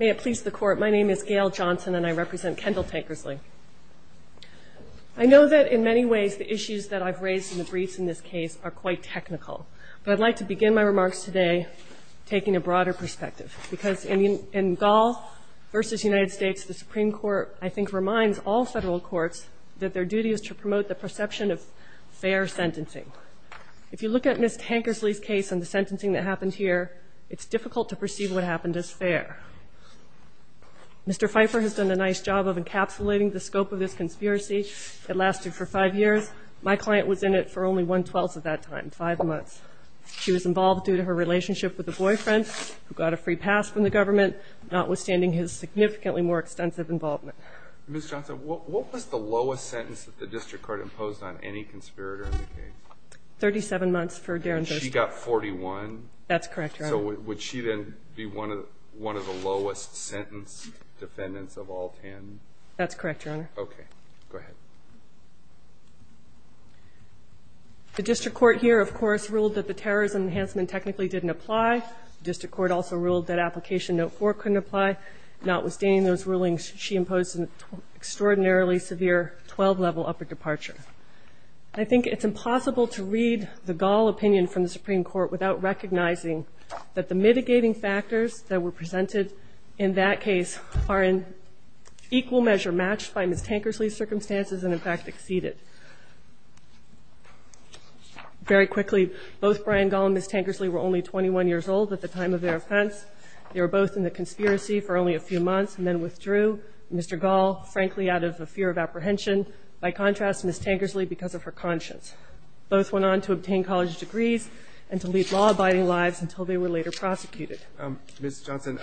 May it please the Court, my name is Gail Johnson and I represent Kendall Tankersley. I know that in many ways the issues that I've raised in the briefs in this case are quite technical. But I'd like to begin my remarks today taking a broader perspective. Because in Gall v. United States, the Supreme Court, I think, reminds all federal courts that their duty is to promote the perception of fair sentencing. If you look at Ms. Tankersley's case and the sentencing that happened here, it's difficult to perceive what happened as fair. Mr. Pfeiffer has done a nice job of encapsulating the scope of this conspiracy. It lasted for five years. My client was in it for only one-twelfth of that time, five months. She was involved due to her relationship with a boyfriend who got a free pass from the government, notwithstanding his significantly more extensive involvement. Ms. Johnson, what was the lowest sentence that the district court imposed on any conspirator in the case? Thirty-seven months for Darren Thurston. And she got 41? That's correct, Your Honor. So would she then be one of the lowest sentence defendants of all ten? That's correct, Your Honor. Okay. Go ahead. The district court here, of course, ruled that the terrorism enhancement technically didn't apply. The district court also ruled that application note 4 couldn't apply. Notwithstanding those rulings, she imposed an extraordinarily severe 12-level upper departure. I think it's impossible to read the Gall opinion from the Supreme Court without recognizing that the mitigating factors that were presented in that case are in equal measure matched by Ms. Tankersley's circumstances and, in fact, exceeded. Very quickly, both Brian Gall and Ms. Tankersley were only 21 years old at the time of their offense. They were both in the conspiracy for only a few months and then withdrew. Mr. Gall, frankly, out of a fear of apprehension. By contrast, Ms. Tankersley, because of her conscience. Both went on to obtain college degrees and to lead law-abiding lives until they were later prosecuted. Ms. Johnson,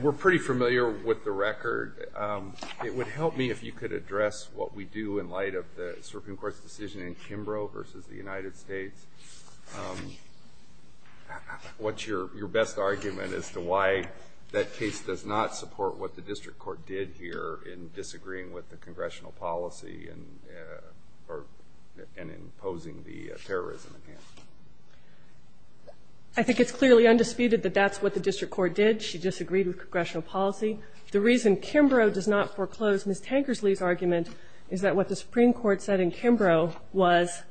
we're pretty familiar with the record. It would help me if you could address what we do in light of the Supreme Court's decision in Kimbrough versus the United States. What's your best argument as to why that case does not support what the district court did here in disagreeing with the congressional policy and imposing the terrorism in hand? I think it's clearly undisputed that that's what the district court did. She disagreed with congressional policy. The reason Kimbrough does not foreclose Ms. Tankersley's argument is that what the Supreme Court said in Kimbrough was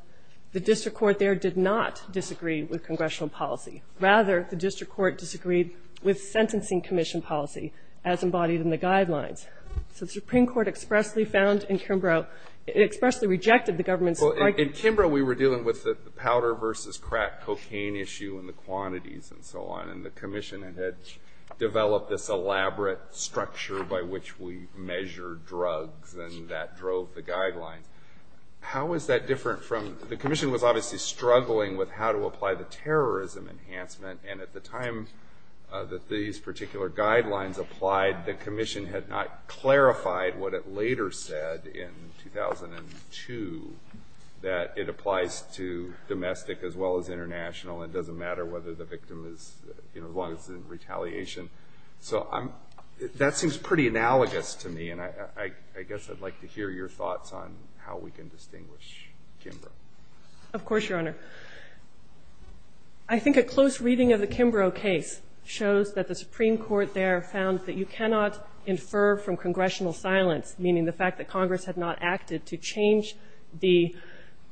the district court there did not disagree with congressional policy. Rather, the district court disagreed with sentencing commission policy as embodied in the guidelines. So the Supreme Court expressly found in Kimbrough, it expressly rejected the government's argument. In Kimbrough, we were dealing with the powder versus crack cocaine issue and the quantities and so on, and the commission had developed this elaborate structure by which we measured drugs and that drove the guidelines. The commission was obviously struggling with how to apply the terrorism enhancement, and at the time that these particular guidelines applied, the commission had not clarified what it later said in 2002, that it applies to domestic as well as international. It doesn't matter whether the victim is, as long as it's in retaliation. So that seems pretty analogous to me, and I guess I'd like to hear your thoughts on how we can distinguish Kimbrough. Of course, Your Honor. I think a close reading of the Kimbrough case shows that the Supreme Court there found that you cannot infer from congressional silence, meaning the fact that Congress had not acted to change the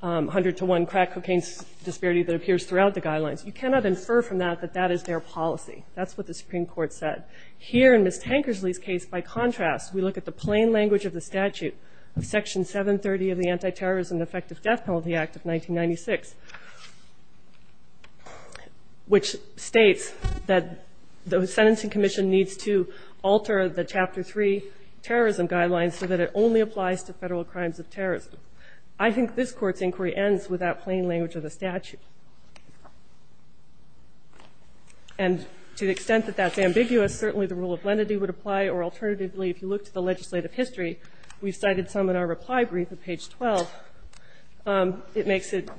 100-to-1 crack cocaine disparity that appears throughout the guidelines. You cannot infer from that that that is their policy. That's what the Supreme Court said. Here in Ms. Tankersley's case, by contrast, we look at the plain language of the statute, Section 730 of the Anti-Terrorism and Effective Death Penalty Act of 1996, which states that the sentencing commission needs to alter the Chapter 3 terrorism guidelines so that it only applies to federal crimes of terrorism. I think this Court's inquiry ends with that plain language of the statute. And to the extent that that's ambiguous, certainly the rule of lenity would apply, or alternatively, if you look to the legislative history, we've cited some in our reply brief at page 12. It makes it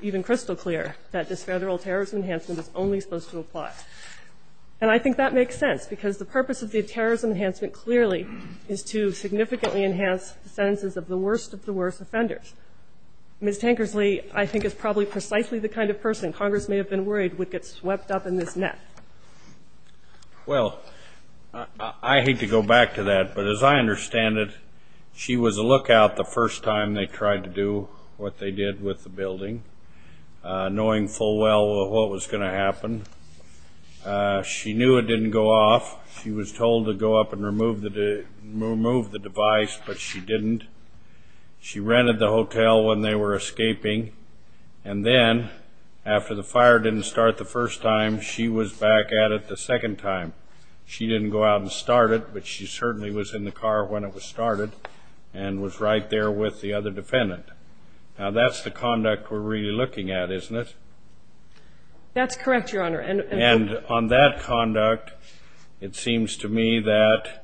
even crystal clear that this federal terrorism enhancement is only supposed to apply. And I think that makes sense, because the purpose of the terrorism enhancement clearly is to significantly enhance the sentences of the worst of the worst offenders. Ms. Tankersley, I think, is probably precisely the kind of person Congress may have been worried would get swept up in this net. Well, I hate to go back to that, but as I understand it, she was a lookout the first time they tried to do what they did with the building, knowing full well what was going to happen. She knew it didn't go off. She was told to go up and remove the device, but she didn't. She rented the hotel when they were escaping. And then, after the fire didn't start the first time, she was back at it the second time. She didn't go out and start it, but she certainly was in the car when it was started and was right there with the other defendant. Now, that's the conduct we're really looking at, isn't it? That's correct, Your Honor. And on that conduct, it seems to me that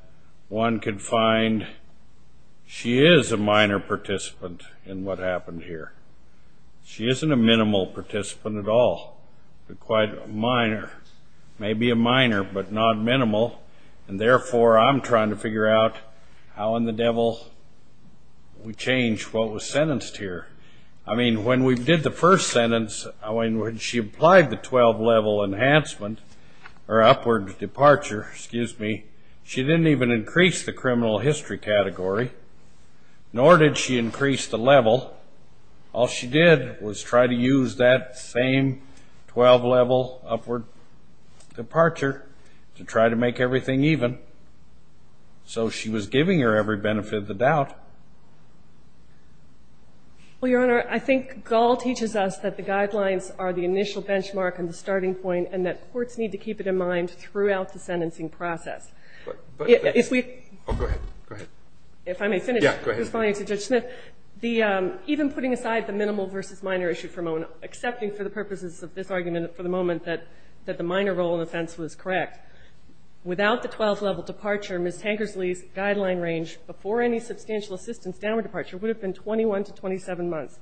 one could find she is a minor participant in what happened here. She isn't a minimal participant at all, but quite a minor. Maybe a minor, but not minimal. And therefore, I'm trying to figure out how in the devil we changed what was sentenced here. I mean, when we did the first sentence, when she applied the 12-level enhancement, or upward departure, excuse me, she didn't even increase the criminal history category, nor did she increase the level. All she did was try to use that same 12-level upward departure to try to make everything even. So she was giving her every benefit of the doubt. Well, Your Honor, I think Gall teaches us that the guidelines are the initial benchmark and the starting point and that courts need to keep it in mind throughout the sentencing process. Oh, go ahead, go ahead. If I may finish. Yeah, go ahead. Even putting aside the minimal versus minor issue for a moment, accepting for the purposes of this argument for the moment that the minor role in offense was correct, without the 12-level departure, Ms. Tankersley's guideline range before any substantial assistance downward departure would have been 21 to 27 months.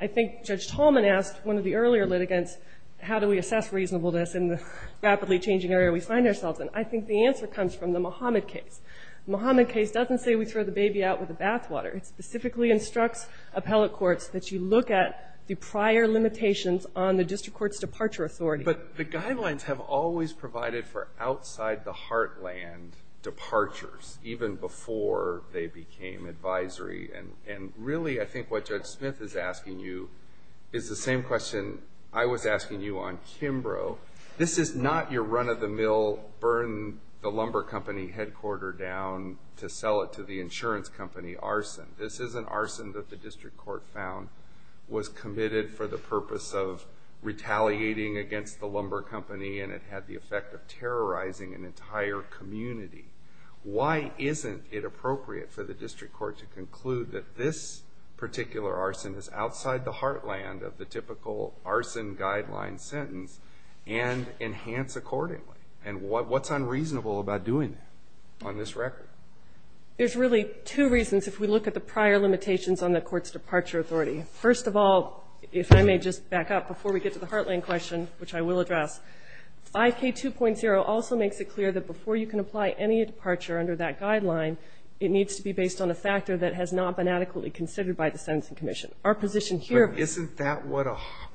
I think Judge Tallman asked one of the earlier litigants, how do we assess reasonableness in the rapidly changing area we find ourselves in? I think the answer comes from the Muhammad case. The Muhammad case doesn't say we throw the baby out with the bathwater. It specifically instructs appellate courts that you look at the prior limitations on the district court's departure authority. But the guidelines have always provided for outside-the-heartland departures, even before they became advisory. And really I think what Judge Smith is asking you is the same question I was asking you on Kimbrough. This is not your run-of-the-mill, burn-the-lumber-company-headquarter-down-to-sell-it-to-the-insurance-company arson. This is an arson that the district court found was committed for the purpose of retaliating against the lumber company and it had the effect of terrorizing an entire community. Why isn't it appropriate for the district court to conclude that this particular arson is outside the heartland of the typical arson guideline sentence and enhance accordingly? And what's unreasonable about doing that on this record? There's really two reasons if we look at the prior limitations on the court's departure authority. First of all, if I may just back up before we get to the heartland question, which I will address, 5K2.0 also makes it clear that before you can apply any departure under that guideline, it needs to be based on a factor that has not been adequately considered by the sentencing commission. Our position here is that what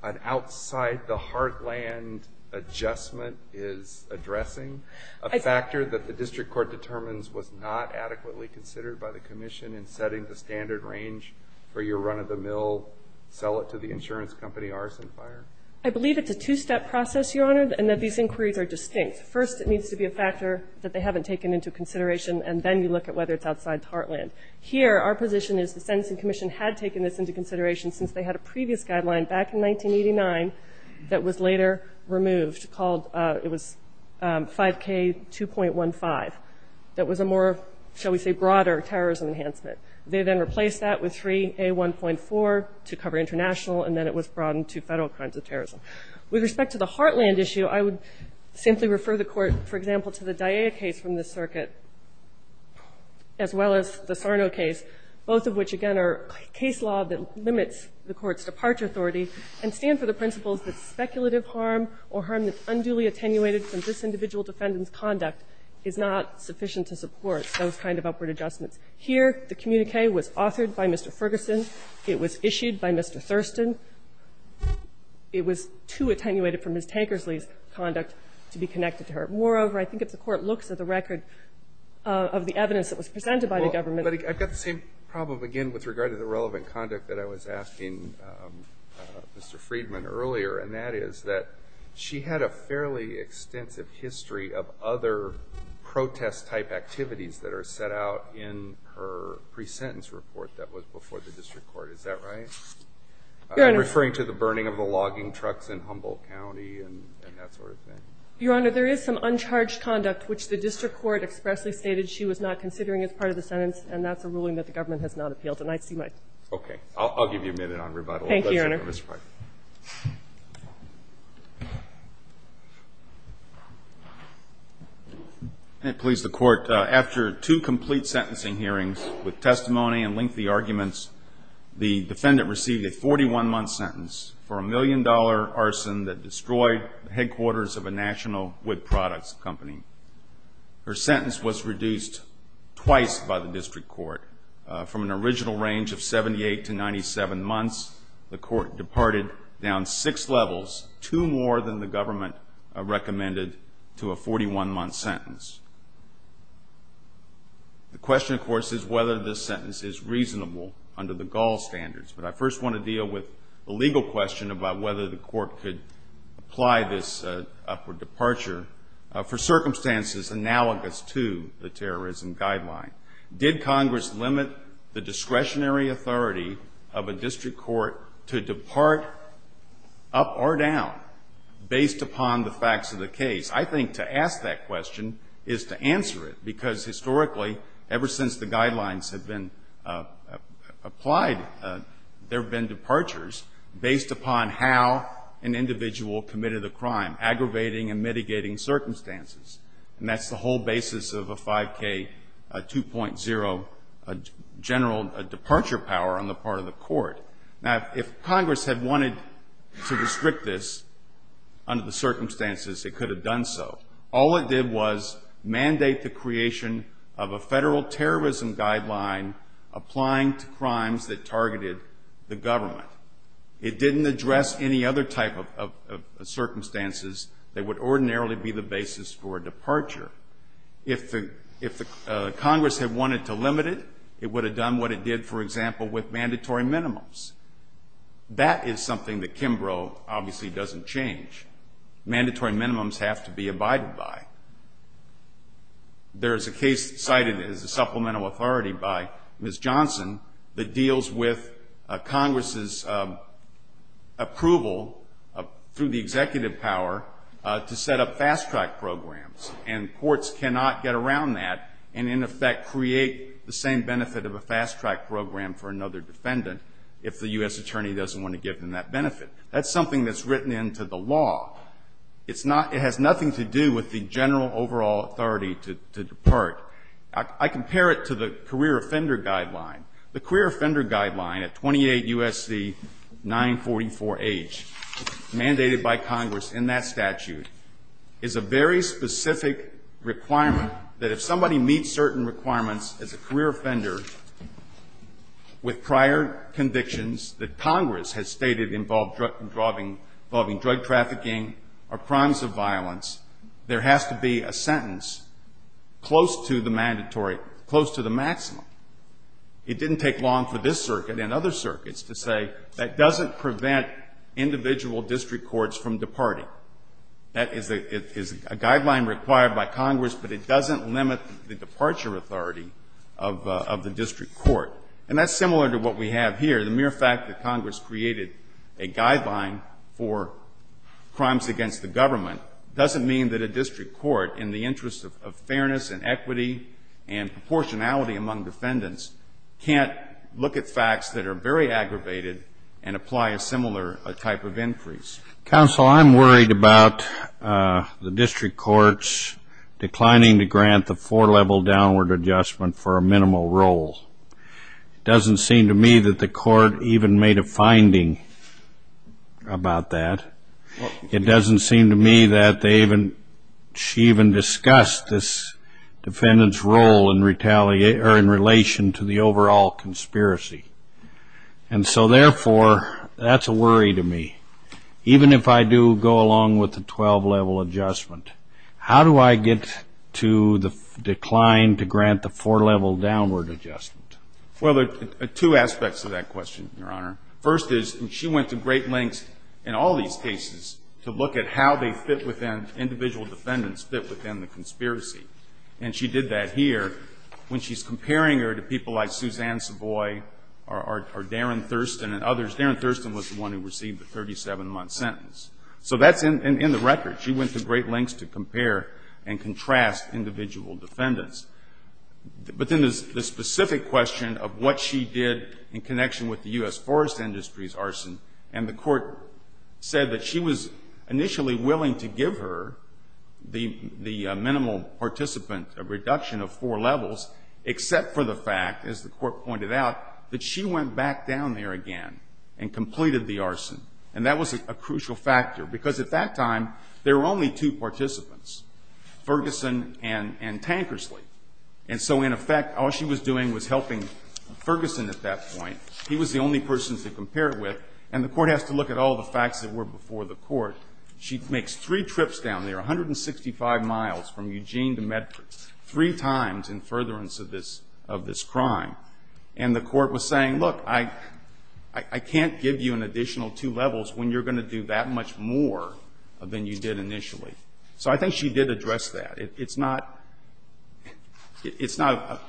an outside-the-heartland adjustment is addressing, a factor that the district court determines was not adequately considered by the commission in setting the standard range for your run-of-the-mill sell-it-to-the-insurance-company arson fire? I believe it's a two-step process, Your Honor, and that these inquiries are distinct. First, it needs to be a factor that they haven't taken into consideration, and then you look at whether it's outside the heartland. Here, our position is the sentencing commission had taken this into consideration since they had a previous guideline back in 1989 that was later removed. It was 5K2.15. That was a more, shall we say, broader terrorism enhancement. They then replaced that with 3A1.4 to cover international, and then it was broadened to federal crimes of terrorism. With respect to the heartland issue, I would simply refer the court, for example, to the DIA case from this circuit as well as the Sarno case, both of which, again, are case law that limits the court's departure authority and stand for the principles that speculative harm or harm that's unduly attenuated from this individual defendant's conduct is not sufficient to support those kind of upward adjustments. Here, the communique was authored by Mr. Ferguson. It was issued by Mr. Thurston. It was too attenuated from Ms. Tankersley's conduct to be connected to her. Moreover, I think if the court looks at the record of the evidence that was presented by the government. Alito, I've got the same problem again with regard to the relevant conduct that I was asking Mr. Friedman earlier, and that is that she had a fairly extensive history of other protest-type activities that are set out in her pre-sentence report that was before the district court. Is that right? I'm referring to the burning of the logging trucks in Humboldt County and that sort of thing. Your Honor, there is some uncharged conduct which the district court expressly stated she was not considering as part of the sentence, and that's a ruling that the government has not appealed. And I see myself. Okay. I'll give you a minute on rebuttal. Thank you, Your Honor. Mr. Friedman. May it please the Court, after two complete sentencing hearings with testimony and lengthy arguments, the defendant received a 41-month sentence for a million-dollar arson that destroyed headquarters of a national wood products company. Her sentence was reduced twice by the district court from an original range of 78 to 97 months. The court departed down six levels, two more than the government recommended, to a 41-month sentence. The question, of course, is whether this sentence is reasonable under the Gaul standards, but I first want to deal with the legal question about whether the court could apply this upward departure for circumstances analogous to the terrorism guideline. Did Congress limit the discretionary authority of a district court to depart up or down based upon the facts of the case? I think to ask that question is to answer it, because historically, ever since the guidelines have been applied, there have been departures based upon how an individual committed a crime, aggravating and mitigating circumstances. And that's the whole basis of a 5K 2.0 general departure power on the part of the court. Now, if Congress had wanted to restrict this under the circumstances, it could have done so. All it did was mandate the creation of a federal terrorism guideline applying to crimes that targeted the government. It didn't address any other type of circumstances that would ordinarily be the reason for a departure. If Congress had wanted to limit it, it would have done what it did, for example, with mandatory minimums. That is something that Kimbrough obviously doesn't change. Mandatory minimums have to be abided by. There is a case cited as a supplemental authority by Ms. Johnson that deals with And courts cannot get around that and, in effect, create the same benefit of a fast-track program for another defendant if the U.S. attorney doesn't want to give them that benefit. That's something that's written into the law. It's not — it has nothing to do with the general overall authority to depart. I compare it to the career offender guideline. The career offender guideline at 28 U.S.C. 944H mandated by Congress in that statute is a very specific requirement that if somebody meets certain requirements as a career offender with prior convictions that Congress has stated involving drug trafficking or crimes of violence, there has to be a sentence close to the mandatory — close to the maximum. It didn't take long for this circuit and other circuits to say that doesn't prevent individual district courts from departing. That is a guideline required by Congress, but it doesn't limit the departure authority of the district court. And that's similar to what we have here. The mere fact that Congress created a guideline for crimes against the government doesn't mean that a district court, in the interest of fairness and equity and proportionality among defendants, can't look at facts that are very aggravated and apply a similar type of increase. Counsel, I'm worried about the district courts declining to grant the four-level downward adjustment for a minimal role. It doesn't seem to me that the court even made a finding about that. It doesn't seem to me that they even — she even discussed this defendant's role in retaliation — or in relation to the overall conspiracy. And so, therefore, that's a worry to me. Even if I do go along with the 12-level adjustment, how do I get to the decline to grant the four-level downward adjustment? Well, there are two aspects to that question, Your Honor. First is — and she went to great lengths in all these cases to look at how they fit within — individual defendants fit within the conspiracy. And she did that here when she's comparing her to people like Suzanne Savoy or Darren Thurston and others. Darren Thurston was the one who received the 37-month sentence. So that's in the record. She went to great lengths to compare and contrast individual defendants. But then there's the specific question of what she did in connection with the U.S. forest industry's arson. And the court said that she was initially willing to give her the minimal participant reduction of four levels, except for the fact, as the court pointed out, that she went back down there again and completed the arson. And that was a crucial factor, because at that time there were only two participants, Ferguson and Tankersley. And so, in effect, all she was doing was helping Ferguson at that point. He was the only person to compare it with. And the court has to look at all the facts that were before the court. She makes three trips down there, 165 miles from Eugene to Medford, three times in furtherance of this crime. And the court was saying, look, I can't give you an additional two levels when you're going to do that much more than you did initially. So I think she did address that. It's not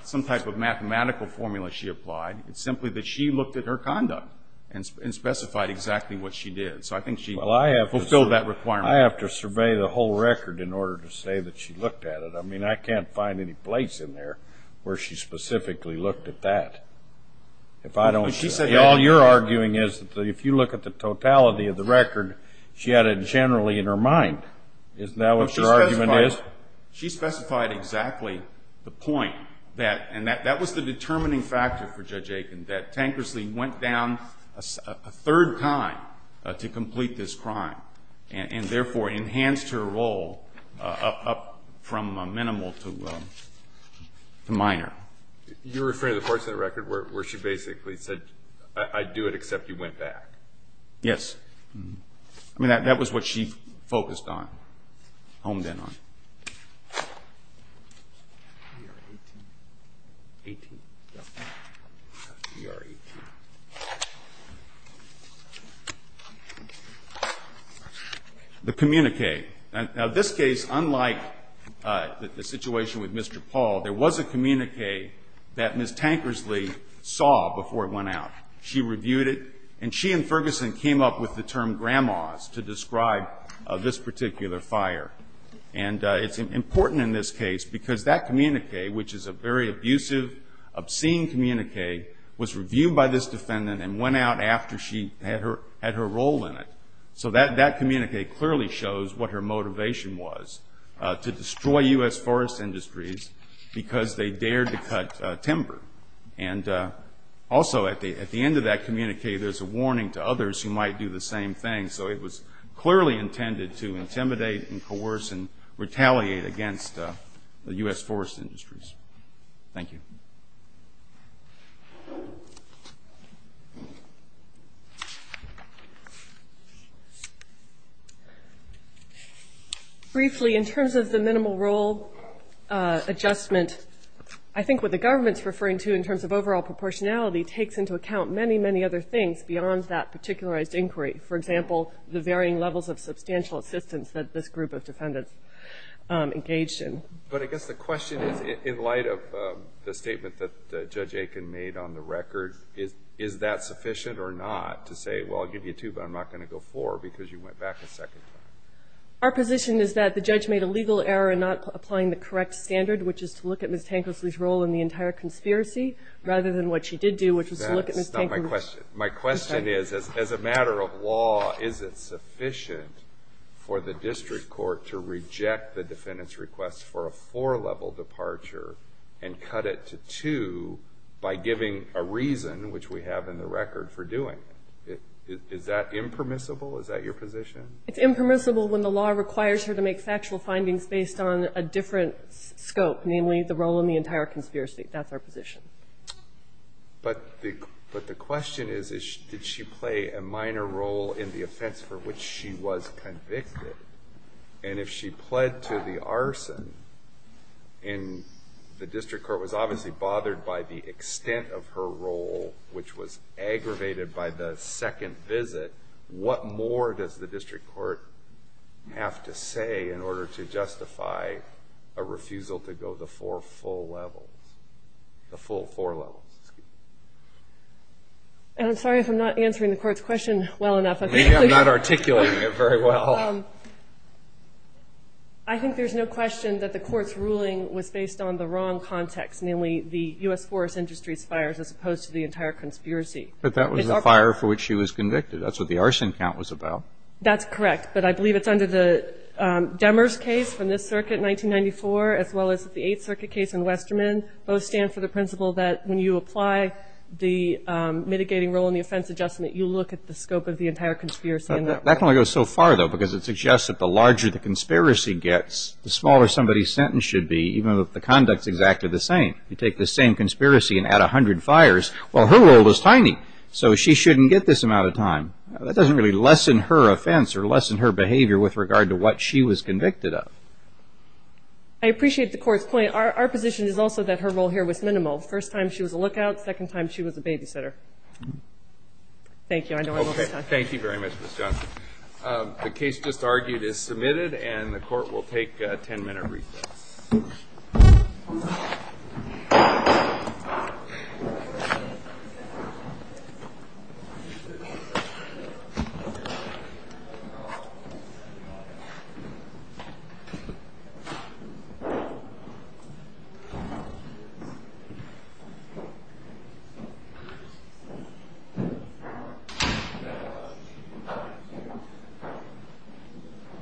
some type of mathematical formula she applied. It's simply that she looked at her conduct and specified exactly what she did. So I think she fulfilled that requirement. I have to survey the whole record in order to say that she looked at it. I mean, I can't find any place in there where she specifically looked at that. All you're arguing is that if you look at the totality of the record, she had it generally in her mind. Isn't that what your argument is? She specified exactly the point. And that was the determining factor for Judge Aiken, that Tankersley went down a lot to complete this crime and, therefore, enhanced her role up from a minimal to minor. You're referring to the portion of the record where she basically said, I'd do it except you went back. Yes. I mean, that was what she focused on, honed in on. The communique. Now, this case, unlike the situation with Mr. Paul, there was a communique that Ms. Tankersley saw before it went out. She reviewed it, and she and Ferguson came up with the term grandma's to describe this particular fire. And it's important in this case because that communique, which is a very abusive, obscene communique, was reviewed by this defendant and went out after she had her role in it. So that communique clearly shows what her motivation was, to destroy U.S. forest industries because they dared to cut timber. And also, at the end of that communique, there's a warning to others who might do the same thing. So it was clearly intended to intimidate and coerce and retaliate against the U.S. forest industries. Thank you. Briefly, in terms of the minimal role adjustment, I think what the government's referring to in terms of overall proportionality takes into account many, many other things beyond that particularized inquiry. For example, the varying levels of substantial assistance that this group of defendants engaged in. But I guess the question is, in light of the statement that Judge Aiken made on the record, is that sufficient or not to say, well, I'll give you two, but I'm not going to go four because you went back a second time? Our position is that the judge made a legal error in not applying the correct standard, which is to look at Ms. Tankersley's role in the entire conspiracy rather than what she did do, which was to look at Ms. Tankersley's role. My question is, as a matter of law, is it sufficient for the district court to reject the defendant's request for a four-level departure and cut it to two by giving a reason, which we have in the record, for doing it? Is that impermissible? Is that your position? It's impermissible when the law requires her to make factual findings based on a different scope, namely the role in the entire conspiracy. That's our position. But the question is, did she play a minor role in the offense for which she was convicted? And if she pled to the arson and the district court was obviously bothered by the extent of her role, which was aggravated by the second visit, what more does the district court have to say in order to justify a refusal to go the four levels? And I'm sorry if I'm not answering the court's question well enough. Maybe I'm not articulating it very well. I think there's no question that the court's ruling was based on the wrong context, namely the U.S. Forest Industry's fires as opposed to the entire conspiracy. But that was the fire for which she was convicted. That's what the arson count was about. That's correct. But I believe it's under the Demers case from this circuit in 1994, as well as the Eighth Circuit case in Westermann, both stand for the principle that when you apply the mitigating role in the offense adjustment, you look at the scope of the entire conspiracy in that way. That only goes so far, though, because it suggests that the larger the conspiracy gets, the smaller somebody's sentence should be, even if the conduct's exactly the same. You take the same conspiracy and add 100 fires, well, her role was tiny, so she shouldn't get this amount of time. That doesn't really lessen her offense or lessen her behavior with regard to what she was convicted of. I appreciate the Court's point. Our position is also that her role here was minimal. First time she was a lookout. Second time she was a babysitter. Thank you. I know I'm over time. Thank you very much, Ms. Johnson. The case just argued is submitted, and the Court will take a 10-minute recess. Thank you.